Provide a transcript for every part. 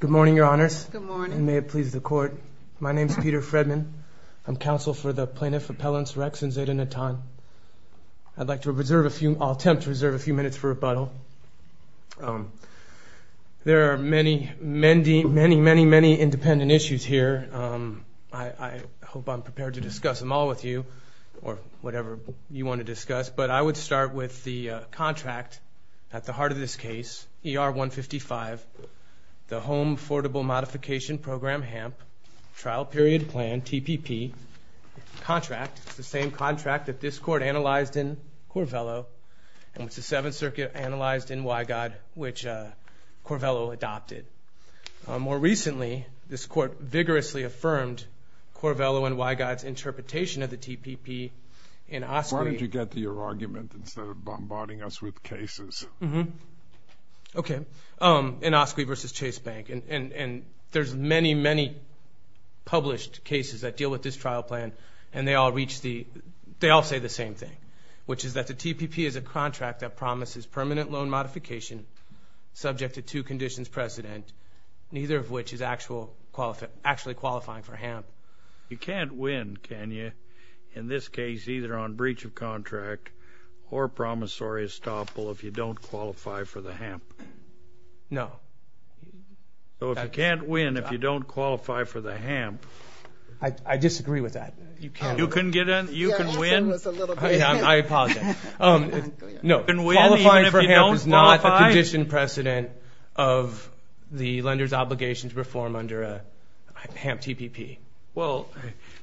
Good morning, Your Honors. Good morning. And may it please the Court. My name is Peter Fredman. I'm counsel for the Plaintiff Appellants Rex and Zayden Natan. I'd like to reserve a few – I'll attempt to reserve a few minutes for rebuttal. There are many, many, many, many, many independent issues here. I hope I'm prepared to discuss them all with you or whatever you want to discuss, but I would start with the contract at the heart of this case, ER-155, the Home Affordable Modification Program, HAMP, Trial Period Plan, TPP contract. It's the same contract that this Court analyzed in Corvello, and it's the Seventh Circuit analyzed in Wygod, which Corvello adopted. More recently, this Court vigorously affirmed Corvello and Wygod's interpretation of the TPP. Why don't you get to your argument instead of bombarding us with cases? Okay. In Oskley v. Chase Bank, and there's many, many published cases that deal with this trial plan, and they all say the same thing, which is that the TPP is a contract that promises permanent loan modification subject to two conditions precedent, neither of which is actually qualifying for HAMP. You can't win, can you? In this case, either on breach of contract or promissory estoppel if you don't qualify for the HAMP. No. So if you can't win if you don't qualify for the HAMP. I disagree with that. You can win? I apologize. No, qualifying for HAMP is not a condition precedent of the lender's obligation to perform under a HAMP TPP. Well,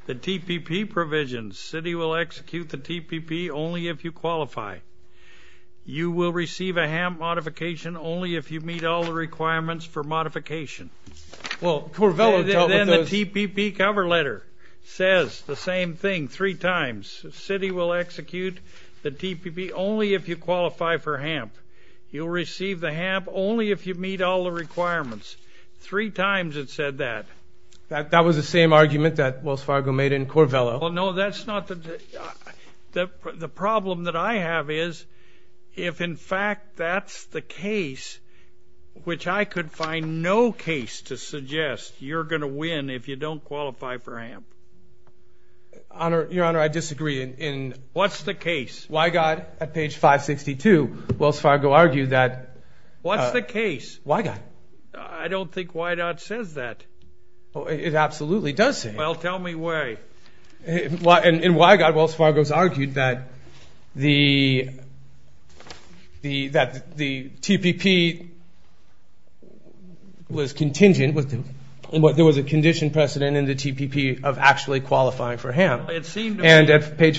the TPP provisions, city will execute the TPP only if you qualify. You will receive a HAMP modification only if you meet all the requirements for modification. Well, Corvello dealt with those. Then the TPP cover letter says the same thing three times. The city will execute the TPP only if you qualify for HAMP. You'll receive the HAMP only if you meet all the requirements. Three times it said that. That was the same argument that Wells Fargo made in Corvello. Well, no, that's not the problem that I have is if, in fact, that's the case, which I could find no case to suggest you're going to win if you don't qualify for HAMP. Your Honor, I disagree. What's the case? Wygott at page 562, Wells Fargo argued that. What's the case? Wygott. I don't think Wygott says that. It absolutely does say that. Well, tell me why. In Wygott, Wells Fargo's argued that the TPP was contingent. There was a condition precedent in the TPP of actually qualifying for HAMP. It seemed to me,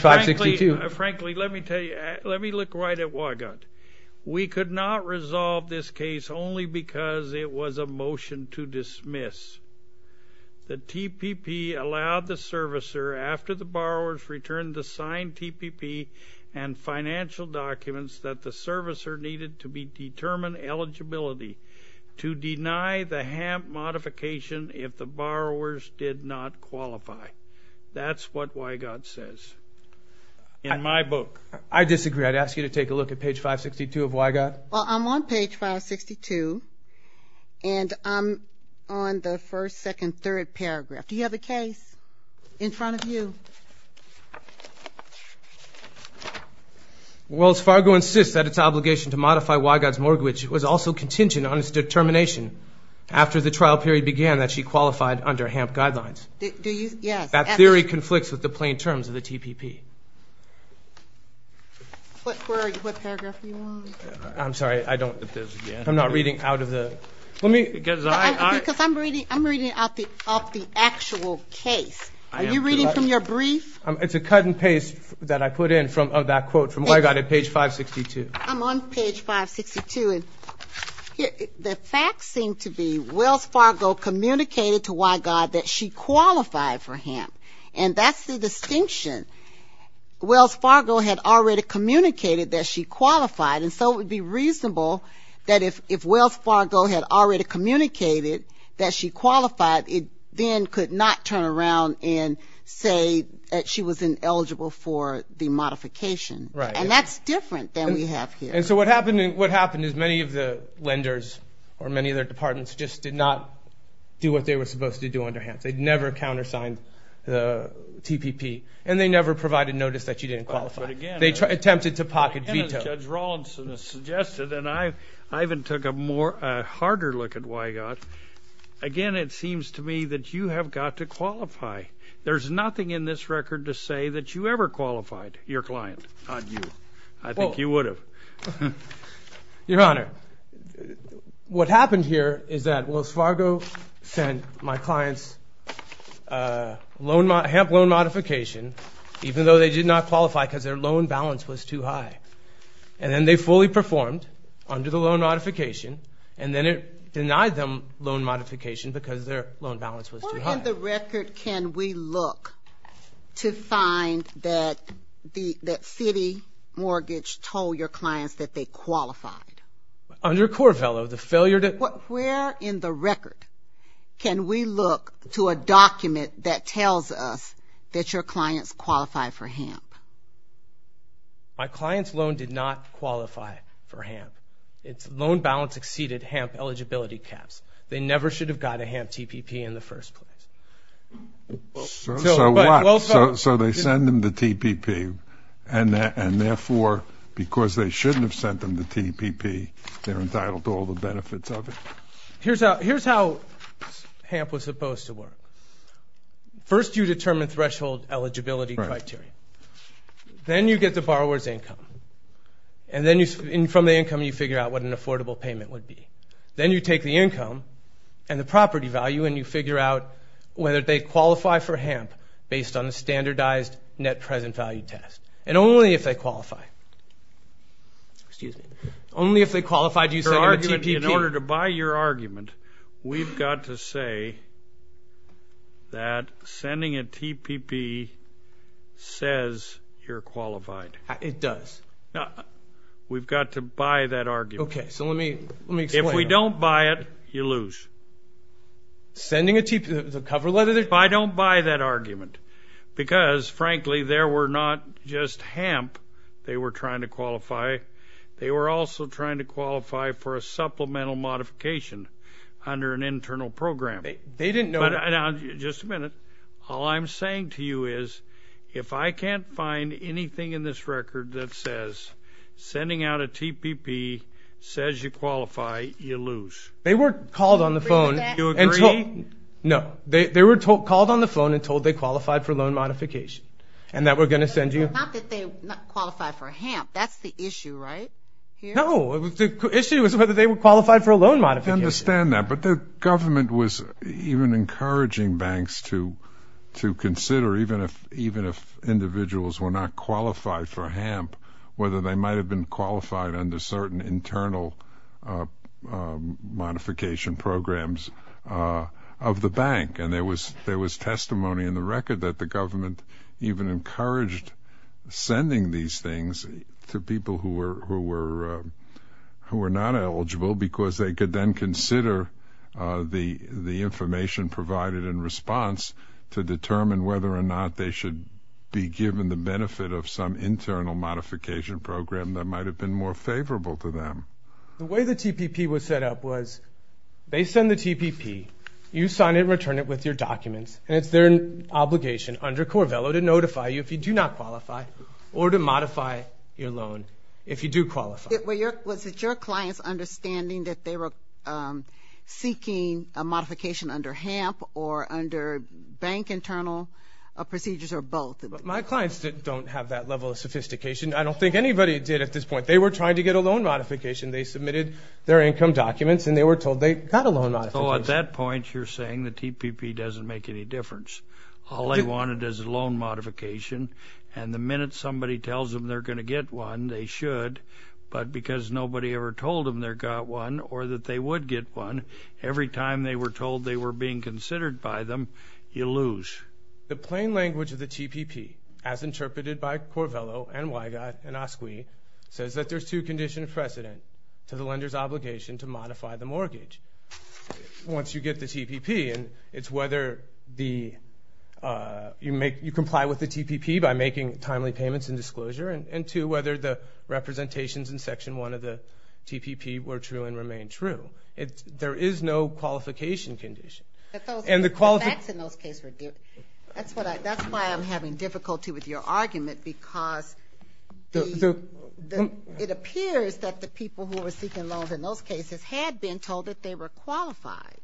frankly, let me tell you, let me look right at Wygott. We could not resolve this case only because it was a motion to dismiss. The TPP allowed the servicer, after the borrowers returned the signed TPP and financial documents that the servicer needed to determine eligibility to deny the HAMP modification if the borrowers did not qualify. That's what Wygott says in my book. I disagree. I'd ask you to take a look at page 562 of Wygott. Well, I'm on page 562, and I'm on the first, second, third paragraph. Do you have the case in front of you? Wells Fargo insists that its obligation to modify Wygott's mortgage was also contingent on its determination after the trial period began that she qualified under HAMP guidelines. That theory conflicts with the plain terms of the TPP. What paragraph are you on? I'm sorry. I don't know. I'm not reading out of the ‑‑ Because I'm reading out of the actual case. Are you reading from your brief? It's a cut and paste that I put in of that quote from Wygott at page 562. I'm on page 562. The facts seem to be Wells Fargo communicated to Wygott that she qualified for HAMP, and that's the distinction. Wells Fargo had already communicated that she qualified, and so it would be reasonable that if Wells Fargo had already communicated that she qualified, it then could not turn around and say that she was ineligible for the modification. Right. And that's different than we have here. And so what happened is many of the lenders or many of their departments just did not do what they were supposed to do under HAMP. They never countersigned the TPP, and they never provided notice that she didn't qualify. But again, as Judge Rawlinson has suggested, and I even took a harder look at Wygott, again, it seems to me that you have got to qualify. There's nothing in this record to say that you ever qualified your client. Not you. I think you would have. Your Honor, what happened here is that Wells Fargo sent my clients HAMP loan modification, even though they did not qualify because their loan balance was too high. And then they fully performed under the loan modification, and then it denied them loan modification because their loan balance was too high. Where in the record can we look to find that Citi Mortgage told your clients that they qualified? Under Corvello, the failure to – Where in the record can we look to a document that tells us that your clients qualify for HAMP? My client's loan did not qualify for HAMP. Its loan balance exceeded HAMP eligibility caps. They never should have got a HAMP TPP in the first place. So what? So they send them the TPP, and therefore, because they shouldn't have sent them the TPP, they're entitled to all the benefits of it. Here's how HAMP was supposed to work. First you determine threshold eligibility criteria. Then you get the borrower's income. And then from the income you figure out what an affordable payment would be. Then you take the income and the property value, and you figure out whether they qualify for HAMP based on the standardized net present value test. And only if they qualify. Excuse me. Only if they qualify do you send them a TPP. In order to buy your argument, we've got to say that sending a TPP says you're qualified. It does. We've got to buy that argument. Okay. So let me explain. If we don't buy it, you lose. Sending a TPP, the cover letter? I don't buy that argument because, frankly, there were not just HAMP they were trying to qualify. They were also trying to qualify for a supplemental modification under an internal program. They didn't know that. Now, just a minute. All I'm saying to you is if I can't find anything in this record that says sending out a TPP says you qualify, you lose. They were called on the phone. Do you agree with that? No. They were called on the phone and told they qualified for a loan modification and that we're going to send you. Not that they qualified for HAMP. That's the issue, right? No. The issue is whether they would qualify for a loan modification. I understand that. But the government was even encouraging banks to consider, even if individuals were not qualified for HAMP, whether they might have been qualified under certain internal modification programs of the bank. And there was testimony in the record that the government even encouraged sending these things to people who were not eligible because they could then consider the information provided in response to determine whether or not they should be given the benefit of some internal modification program that might have been more favorable to them. The way the TPP was set up was they send the TPP. You sign it and return it with your documents, and it's their obligation under Corvello to notify you if you do not qualify or to modify your loan if you do qualify. Was it your clients' understanding that they were seeking a modification under HAMP or under bank internal procedures or both? My clients don't have that level of sophistication. I don't think anybody did at this point. They were trying to get a loan modification. They submitted their income documents, and they were told they got a loan modification. So at that point, you're saying the TPP doesn't make any difference. All they wanted is a loan modification, and the minute somebody tells them they're going to get one, they should. But because nobody ever told them they got one or that they would get one, every time they were told they were being considered by them, you lose. The plain language of the TPP, as interpreted by Corvello and Weigott and Asqui, says that there's two conditions of precedent to the lender's obligation to modify the mortgage. Once you get the TPP, it's whether you comply with the TPP by making timely payments and disclosure, and two, whether the representations in Section 1 of the TPP were true and remain true. There is no qualification condition. That's why I'm having difficulty with your argument, because it appears that the people who were seeking loans in those cases had been told that they were qualified.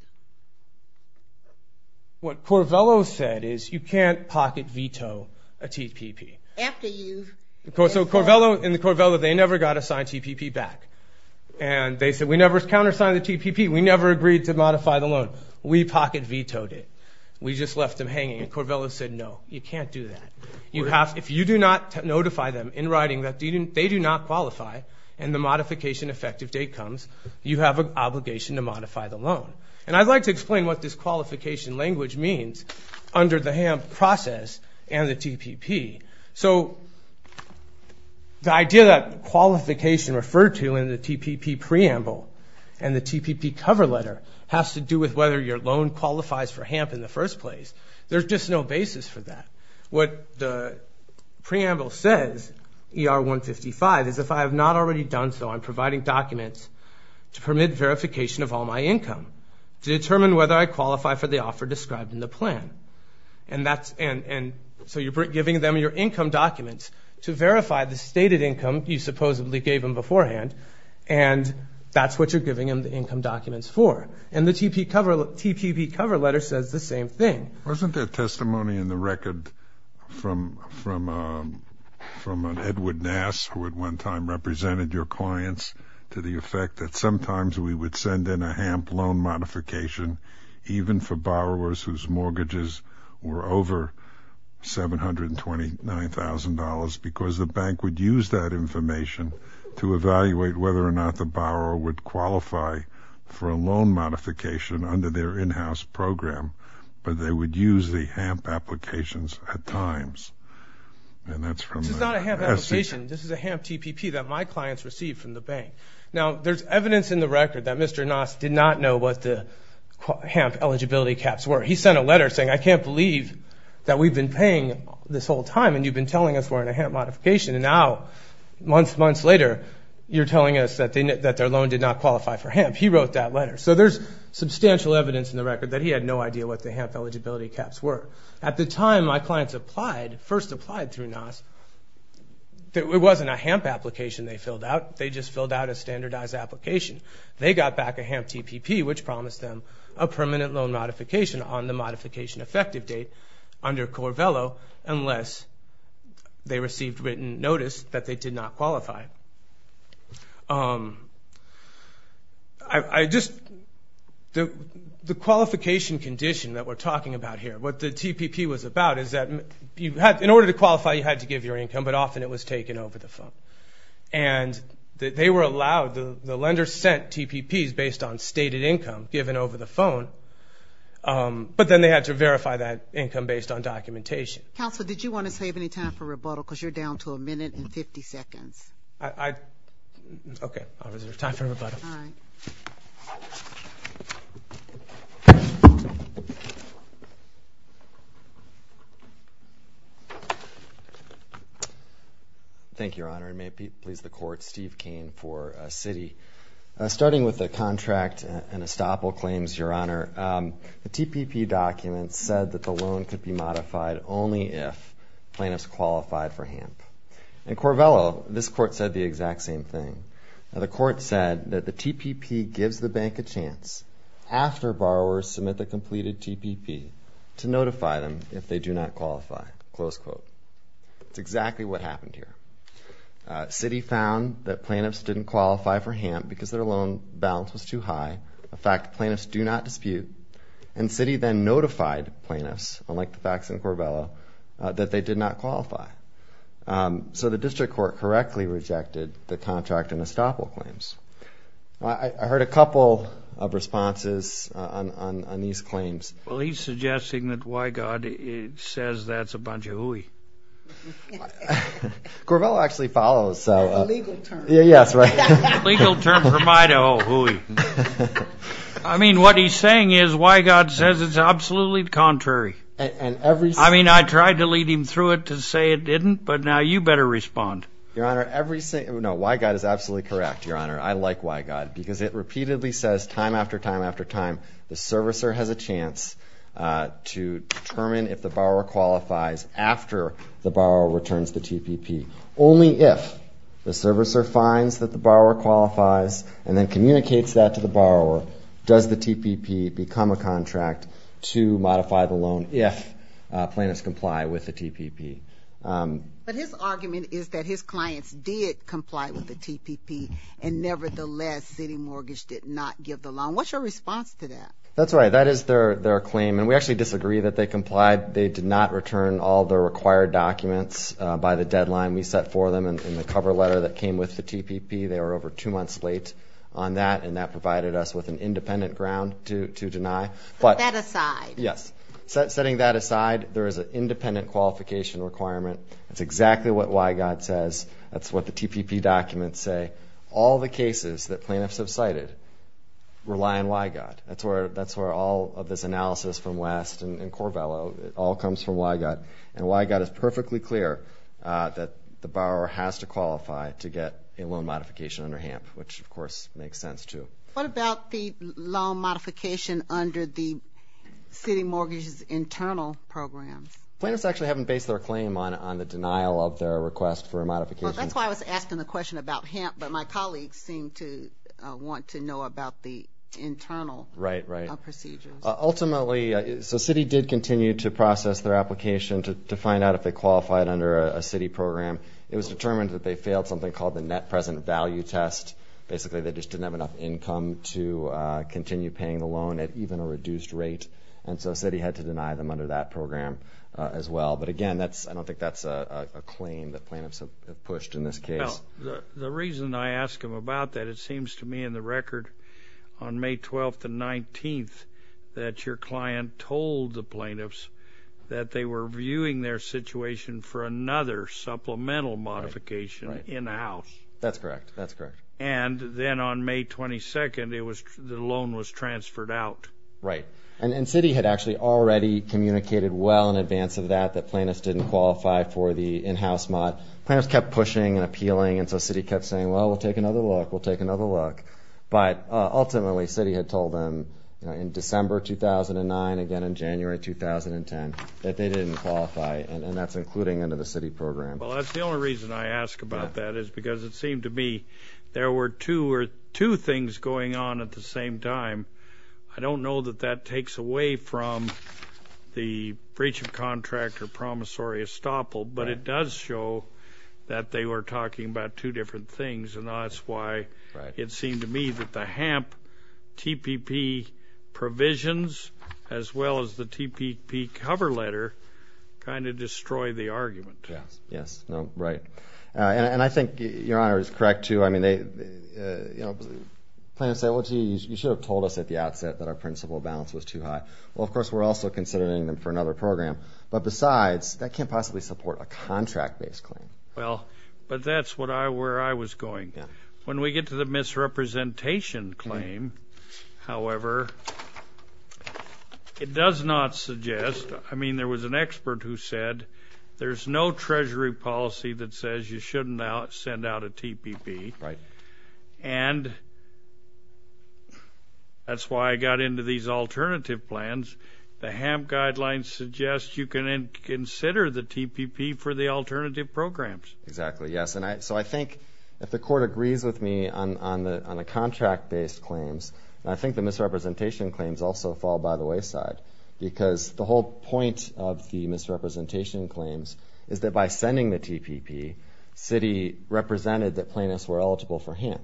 What Corvello said is you can't pocket veto a TPP. So in the Corvello, they never got a signed TPP back, and they said we never countersigned the TPP. We never agreed to modify the loan. We pocket vetoed it. We just left them hanging, and Corvello said no, you can't do that. If you do not notify them in writing that they do not qualify and the modification effective date comes, you have an obligation to modify the loan. And I'd like to explain what this qualification language means under the HAMP process and the TPP. So the idea that qualification referred to in the TPP preamble and the TPP cover letter has to do with whether your loan qualifies for HAMP in the first place. There's just no basis for that. What the preamble says, ER 155, is if I have not already done so, I'm providing documents to permit verification of all my income to determine whether I qualify for the offer described in the plan. And so you're giving them your income documents to verify the stated income you supposedly gave them beforehand, and that's what you're giving them the income documents for. And the TPP cover letter says the same thing. Wasn't there testimony in the record from Edward Nass, who at one time represented your clients, to the effect that sometimes we would send in a HAMP loan modification even for borrowers whose mortgages were over $729,000 because the bank would use that information to evaluate whether or not the borrower would qualify for a loan modification under their in-house program, but they would use the HAMP applications at times. And that's from the SEC. This is not a HAMP application. This is a HAMP TPP that my clients received from the bank. Now, there's evidence in the record that Mr. Nass did not know what the HAMP eligibility caps were. He sent a letter saying, I can't believe that we've been paying this whole time, and you've been telling us we're in a HAMP modification, and now, months, months later, you're telling us that their loan did not qualify for HAMP. He wrote that letter. So there's substantial evidence in the record that he had no idea what the HAMP eligibility caps were. At the time my clients first applied through Nass, it wasn't a HAMP application they filled out. They just filled out a standardized application. They got back a HAMP TPP, which promised them a permanent loan modification on the modification effective date under Corvello unless they received written notice that they did not qualify. The qualification condition that we're talking about here, what the TPP was about is that in order to qualify, you had to give your income, but often it was taken over the phone. And they were allowed, the lender sent TPPs based on stated income given over the phone, but then they had to verify that income based on documentation. Counsel, did you want to save any time for rebuttal because you're down to a minute and 50 seconds? Okay, I'll reserve time for rebuttal. All right. Thank you, Your Honor, and may it please the Court, Steve Cain for Citi. Starting with the contract and estoppel claims, Your Honor, the TPP document said that the loan could be modified only if plaintiffs qualified for HAMP. In Corvello, this Court said the exact same thing. The Court said that the TPP gives the bank a chance after borrowers submit the completed TPP to notify them if they do not qualify, close quote. That's exactly what happened here. Citi found that plaintiffs didn't qualify for HAMP because their loan balance was too high. A fact plaintiffs do not dispute. And Citi then notified plaintiffs, unlike the facts in Corvello, that they did not qualify. So the District Court correctly rejected the contract and estoppel claims. I heard a couple of responses on these claims. Well, he's suggesting that Wygod says that's a bunch of hooey. Corvello actually follows. A legal term. Yes, right. A legal term for my hooey. I mean, what he's saying is Wygod says it's absolutely contrary. I mean, I tried to lead him through it to say it didn't, but now you better respond. Your Honor, Wygod is absolutely correct, Your Honor. I like Wygod because it repeatedly says time after time after time, the servicer has a chance to determine if the borrower qualifies after the borrower returns the TPP, only if the servicer finds that the borrower qualifies and then communicates that to the borrower, does the TPP become a contract to modify the loan if plaintiffs comply with the TPP. But his argument is that his clients did comply with the TPP, and nevertheless Citi Mortgage did not give the loan. What's your response to that? That's right. That is their claim. And we actually disagree that they complied. They did not return all the required documents by the deadline we set for them in the cover letter that came with the TPP. They were over two months late on that, and that provided us with an independent ground to deny. Set that aside. Yes. Setting that aside, there is an independent qualification requirement. It's exactly what Wygod says. That's what the TPP documents say. All the cases that plaintiffs have cited rely on Wygod. That's where all of this analysis from West and Corvello, it all comes from Wygod. And Wygod is perfectly clear that the borrower has to qualify to get a loan modification under HAMP, which, of course, makes sense too. What about the loan modification under the Citi Mortgage's internal programs? Plaintiffs actually haven't based their claim on the denial of their request for a modification. Well, that's why I was asking the question about HAMP, but my colleagues seem to want to know about the internal procedures. Right, right. Ultimately, so Citi did continue to process their application to find out if they qualified under a Citi program. It was determined that they failed something called the net present value test. Basically, they just didn't have enough income to continue paying the loan at even a reduced rate, and so Citi had to deny them under that program as well. But, again, I don't think that's a claim that plaintiffs have pushed in this case. Well, the reason I ask him about that, it seems to me in the record on May 12th and 19th that your client told the plaintiffs that they were viewing their situation for another supplemental modification in the house. That's correct. That's correct. And then on May 22nd, the loan was transferred out. Right, and Citi had actually already communicated well in advance of that that plaintiffs didn't qualify for the in-house mod. Plaintiffs kept pushing and appealing, and so Citi kept saying, well, we'll take another look, we'll take another look. But ultimately, Citi had told them in December 2009, again in January 2010, that they didn't qualify, and that's including under the Citi program. Well, that's the only reason I ask about that is because it seemed to me there were two things going on at the same time. I don't know that that takes away from the breach of contract or promissory estoppel, but it does show that they were talking about two different things, and that's why it seemed to me that the HAMP TPP provisions as well as the TPP cover letter kind of destroy the argument. Yes, yes, right. And I think your Honor is correct, too. I mean, plaintiffs say, well, gee, you should have told us at the outset that our principal balance was too high. Well, of course, we're also considering them for another program. But besides, that can't possibly support a contract-based claim. Well, but that's where I was going. When we get to the misrepresentation claim, however, it does not suggest – I mean, there was an expert who said there's no Treasury policy that says you shouldn't send out a TPP. Right. And that's why I got into these alternative plans. The HAMP guidelines suggest you can consider the TPP for the alternative programs. Exactly, yes. And so I think if the Court agrees with me on the contract-based claims, I think the misrepresentation claims also fall by the wayside because the whole point of the misrepresentation claims is that by sending the TPP, Citi represented that plaintiffs were eligible for HAMP.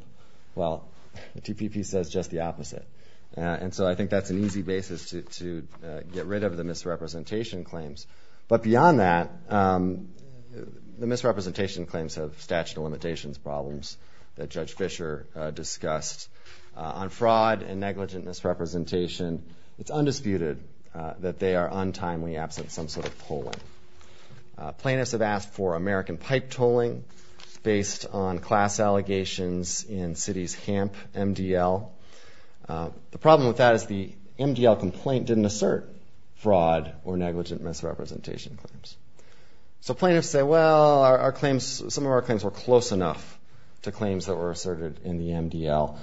Well, the TPP says just the opposite. And so I think that's an easy basis to get rid of the misrepresentation claims. But beyond that, the misrepresentation claims have statute of limitations problems that Judge Fischer discussed. On fraud and negligent misrepresentation, it's undisputed that they are untimely absent some sort of polling. Plaintiffs have asked for American pipe tolling based on class allegations in Citi's HAMP MDL. The problem with that is the MDL complaint didn't assert fraud or negligent misrepresentation claims. So plaintiffs say, well, some of our claims were close enough to claims that were asserted in the MDL.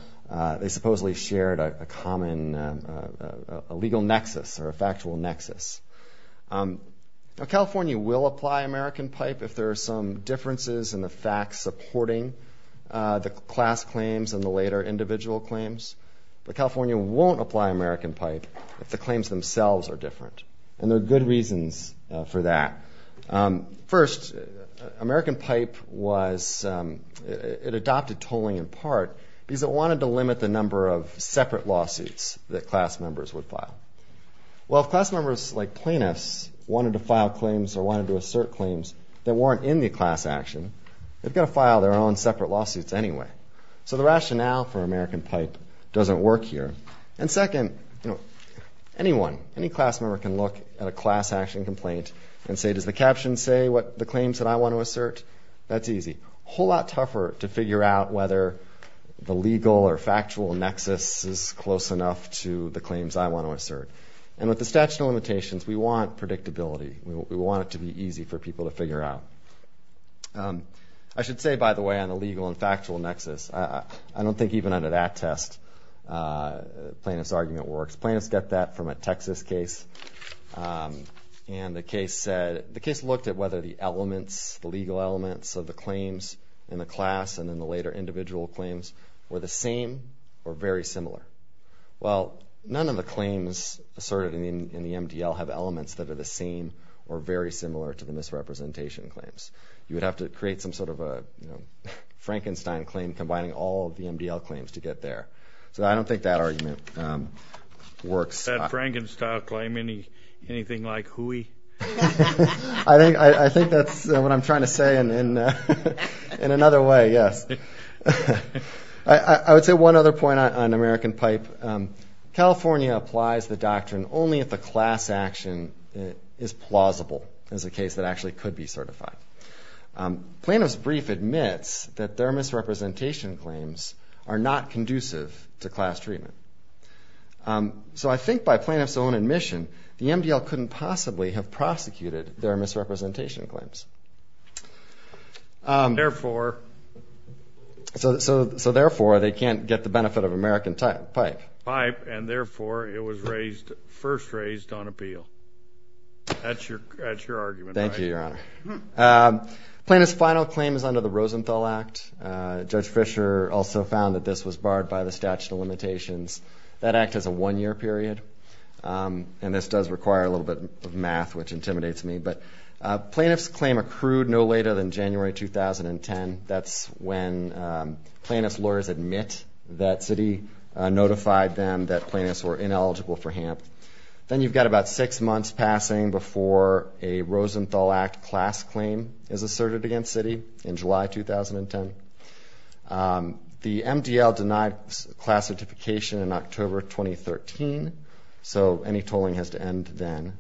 They supposedly shared a common legal nexus or a factual nexus. Now, California will apply American pipe if there are some differences in the facts supporting the class claims and the later individual claims. But California won't apply American pipe if the claims themselves are different. And there are good reasons for that. First, American pipe adopted tolling in part because it wanted to limit the number of separate lawsuits that class members would file. Well, if class members like plaintiffs wanted to file claims or wanted to assert claims that weren't in the class action, they've got to file their own separate lawsuits anyway. So the rationale for American pipe doesn't work here. And second, anyone, any class member can look at a class action complaint and say, does the caption say what the claims that I want to assert? That's easy. A whole lot tougher to figure out whether the legal or factual nexus is close enough to the claims I want to assert. And with the statute of limitations, we want predictability. We want it to be easy for people to figure out. I should say, by the way, on a legal and factual nexus, I don't think even under that test plaintiff's argument works. Plaintiffs get that from a Texas case. And the case said, the case looked at whether the elements, the legal elements of the claims in the class and in the later individual claims were the same or very similar. Well, none of the claims asserted in the MDL have elements that are the same or very similar to the misrepresentation claims. You would have to create some sort of a Frankenstein claim combining all of the MDL claims to get there. So I don't think that argument works. That Frankenstein claim, anything like hooey? I think that's what I'm trying to say in another way, yes. I would say one other point on American pipe. California applies the doctrine only if the class action is plausible as a case that actually could be certified. Plaintiff's brief admits that their misrepresentation claims are not conducive to class treatment. So I think by plaintiff's own admission, the MDL couldn't possibly have prosecuted their misrepresentation claims. Therefore? So therefore, they can't get the benefit of American pipe. Pipe, and therefore, it was first raised on appeal. That's your argument, right? Thank you, Your Honor. Plaintiff's final claim is under the Rosenthal Act. Judge Fischer also found that this was barred by the statute of limitations. That act has a one-year period. And this does require a little bit of math, which intimidates me. But plaintiff's claim accrued no later than January 2010. That's when plaintiff's lawyers admit that Citi notified them that plaintiffs were ineligible for HAMP. Then you've got about six months passing before a Rosenthal Act class claim is asserted against Citi in July 2010. The MDL denied class certification in October 2013. So any tolling has to end then.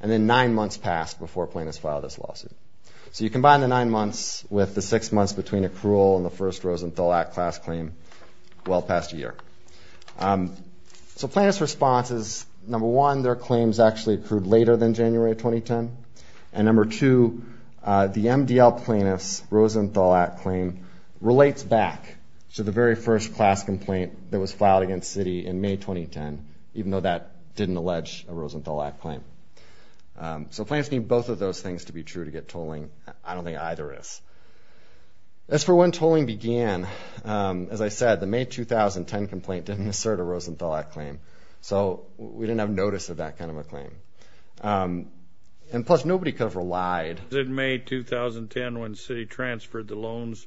And then nine months passed before plaintiffs filed this lawsuit. So you combine the nine months with the six months between accrual and the first Rosenthal Act class claim, well past a year. So plaintiff's response is, number one, their claims actually accrued later than January 2010. And number two, the MDL plaintiff's Rosenthal Act claim relates back to the very first class complaint that was filed against Citi in May 2010, even though that didn't allege a Rosenthal Act claim. So plaintiffs need both of those things to be true to get tolling. I don't think either is. As for when tolling began, as I said, the May 2010 complaint didn't assert a Rosenthal Act claim. So we didn't have notice of that kind of a claim. And plus, nobody could have relied. It was in May 2010 when Citi transferred the loans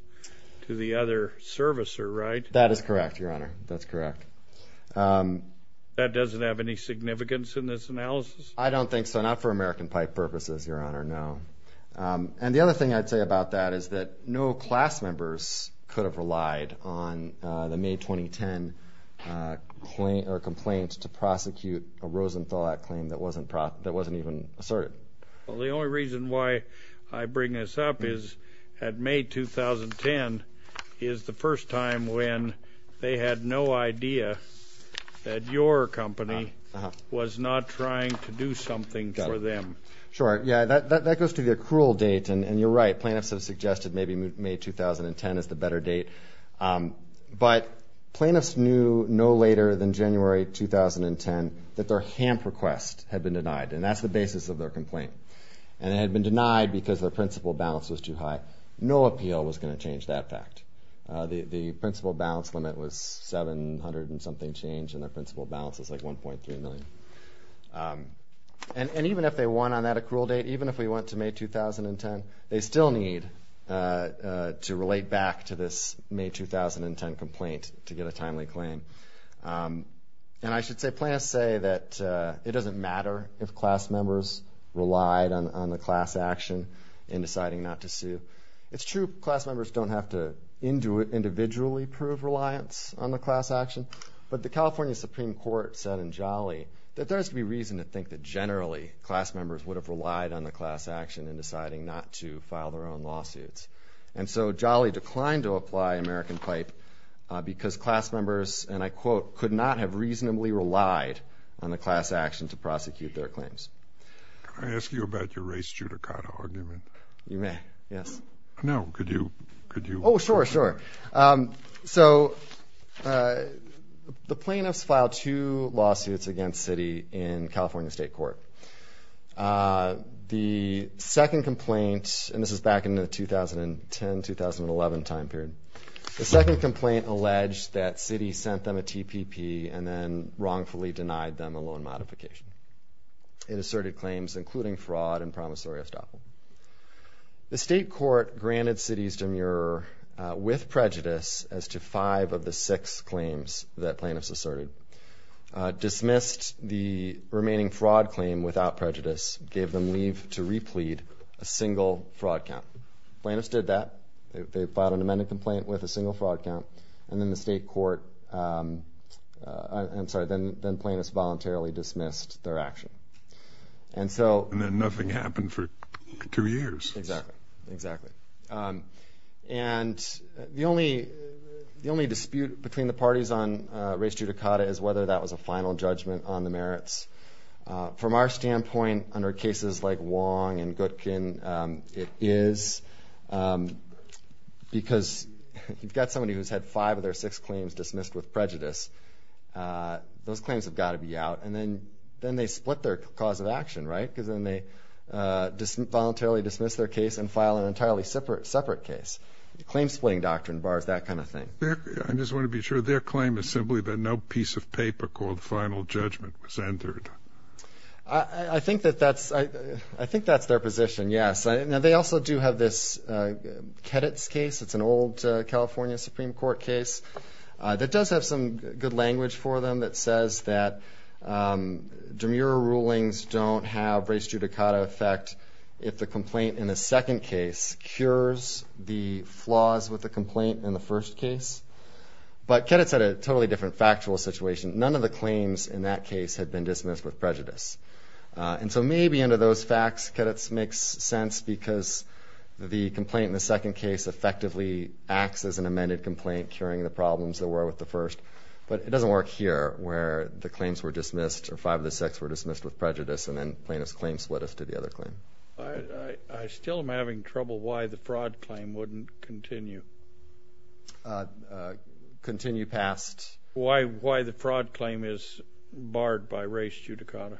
to the other servicer, right? That is correct, Your Honor. That's correct. That doesn't have any significance in this analysis? I don't think so, not for American Pipe purposes, Your Honor, no. And the other thing I'd say about that is that no class members could have relied on the May 2010 complaint to prosecute a Rosenthal Act claim that wasn't even asserted. Well, the only reason why I bring this up is that May 2010 is the first time when they had no idea that your company was not trying to do something for them. Sure. Yeah, that goes to the accrual date, and you're right. Plaintiffs have suggested maybe May 2010 is the better date. But plaintiffs knew no later than January 2010 that their HAMP request had been denied, and that's the basis of their complaint. And it had been denied because their principal balance was too high. No appeal was going to change that fact. The principal balance limit was $700 and something change, and their principal balance was like $1.3 million. And even if they won on that accrual date, even if we went to May 2010, they still need to relate back to this May 2010 complaint to get a timely claim. And I should say plaintiffs say that it doesn't matter if class members relied on the class action in deciding not to sue. It's true class members don't have to individually prove reliance on the class action, but the California Supreme Court said in Jolly that there has to be reason to think that generally class members would have relied on the class action in deciding not to file their own lawsuits. And so Jolly declined to apply American Pipe because class members, and I quote, could not have reasonably relied on the class action to prosecute their claims. Can I ask you about your race judicata argument? You may, yes. No, could you? Oh, sure, sure. So the plaintiffs filed two lawsuits against Citi in California State Court. The second complaint, and this is back in the 2010-2011 time period, the second complaint alleged that Citi sent them a TPP and then wrongfully denied them a loan modification. It asserted claims including fraud and promissory estoppel. The state court granted Citi's demurrer with prejudice as to five of the six claims that plaintiffs asserted, dismissed the remaining fraud claim without prejudice, gave them leave to replete a single fraud count. Plaintiffs did that. They filed an amendment complaint with a single fraud count, and then the state court, I'm sorry, then plaintiffs voluntarily dismissed their action. And then nothing happened for two years. Exactly, exactly. And the only dispute between the parties on race judicata is whether that was a final judgment on the merits. From our standpoint, under cases like Wong and Goodkin, it is, because you've got somebody who's had five of their six claims dismissed with prejudice. Those claims have got to be out. And then they split their cause of action, right, because then they voluntarily dismiss their case and file an entirely separate case. The claim-splitting doctrine bars that kind of thing. I just want to be sure. Their claim is simply that no piece of paper called final judgment was entered. I think that's their position, yes. Now, they also do have this Keditz case. It's an old California Supreme Court case that does have some good language for them that says that demurrer rulings don't have race judicata effect if the complaint in the second case cures the flaws with the complaint in the first case. But Keditz had a totally different factual situation. None of the claims in that case had been dismissed with prejudice. And so maybe under those facts, Keditz makes sense, because the complaint in the second case effectively acts as an amended complaint, curing the problems there were with the first. But it doesn't work here where the claims were dismissed or five of the six were dismissed with prejudice and then plaintiff's claim split us to the other claim. I still am having trouble why the fraud claim wouldn't continue. Continue past? Why the fraud claim is barred by race judicata.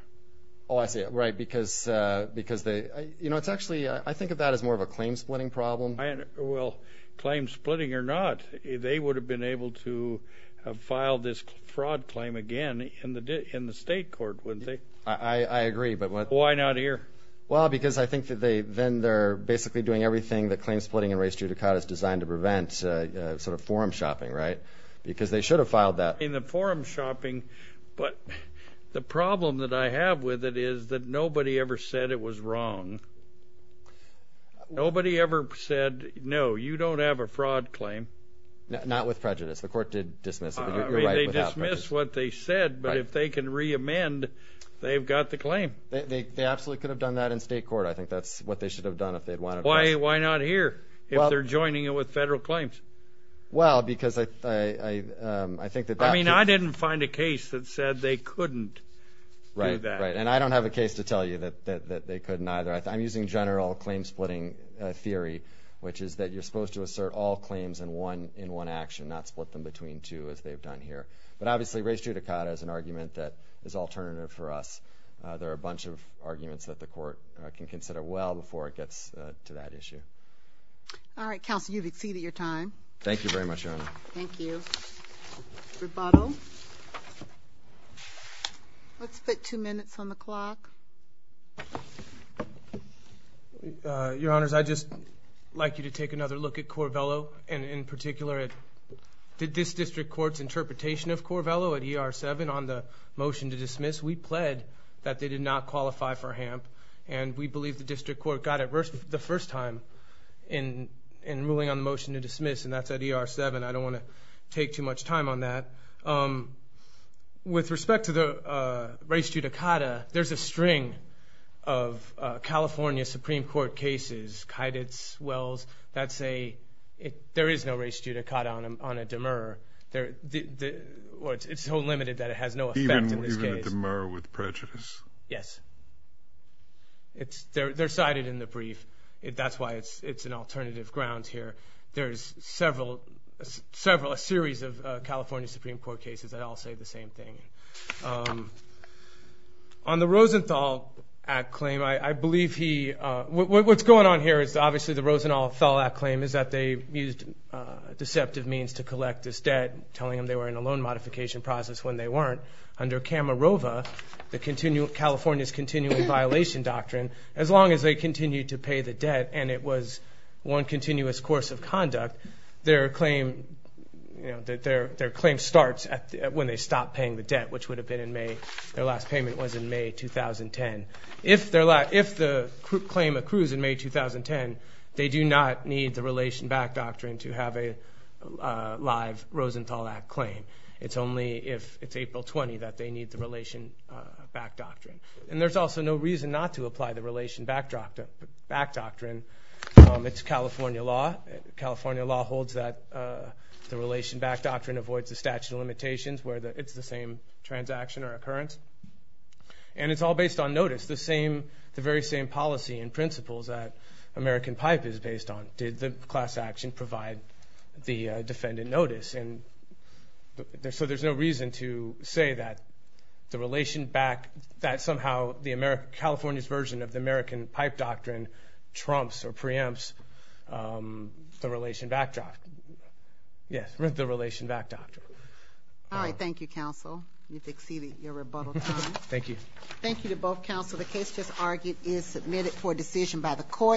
Oh, I see. Right, because they – you know, it's actually – I think of that as more of a claim-splitting problem. Well, claim-splitting or not, they would have been able to have filed this fraud claim again in the state court, wouldn't they? I agree, but what – Why not here? Well, because I think that they – then they're basically doing everything that claim-splitting and race judicata is designed to prevent, sort of forum shopping, right? Because they should have filed that. In the forum shopping, but the problem that I have with it is that nobody ever said it was wrong. Nobody ever said, no, you don't have a fraud claim. Not with prejudice. The court did dismiss it, but you're right. They dismissed what they said, but if they can reamend, they've got the claim. They absolutely could have done that in state court. I think that's what they should have done if they'd wanted to. Why not here if they're joining it with federal claims? Well, because I think that that could – I mean, I didn't find a case that said they couldn't do that. Right, and I don't have a case to tell you that they couldn't either. I'm using general claim-splitting theory, which is that you're supposed to assert all claims in one action, not split them between two, as they've done here. But obviously, race judicata is an argument that is alternative for us. There are a bunch of arguments that the court can consider well before it gets to that issue. All right, counsel, you've exceeded your time. Thank you very much, Your Honor. Thank you. Rebuttal. Let's put two minutes on the clock. Your Honors, I'd just like you to take another look at Corvello, and in particular at this district court's interpretation of Corvello at ER 7 on the motion to dismiss. We pled that they did not qualify for HAMP, and we believe the district court got it the first time in ruling on the motion to dismiss, and that's at ER 7. I don't want to take too much time on that. With respect to the race judicata, there's a string of California Supreme Court cases, Kyditz, Wells, that say there is no race judicata on a demur. It's so limited that it has no effect in this case. Even a demur with prejudice. Yes. They're cited in the brief. That's why it's an alternative ground here. There's several, a series of California Supreme Court cases that all say the same thing. On the Rosenthal Act claim, I believe he, what's going on here is obviously the Rosenthal Act claim is that they used deceptive means to collect this debt, telling them they were in a loan modification process when they weren't, under Camarova, California's continual violation doctrine, as long as they continued to pay the debt and it was one continuous course of conduct, their claim starts when they stop paying the debt, which would have been in May. Their last payment was in May 2010. If the claim accrues in May 2010, they do not need the relation back doctrine to have a live Rosenthal Act claim. It's only if it's April 20 that they need the relation back doctrine. And there's also no reason not to apply the relation back doctrine. It's California law. California law holds that the relation back doctrine avoids the statute of limitations, where it's the same transaction or occurrence. And it's all based on notice, the very same policy and principles that American PIPE is based on. Did the class action provide the defendant notice? So there's no reason to say that the relation back, that somehow California's version of the American PIPE doctrine trumps or preempts the relation back doctrine. All right, thank you, counsel. You've exceeded your rebuttal time. Thank you. Thank you to both counsel. The case just argued is submitted for decision by the court.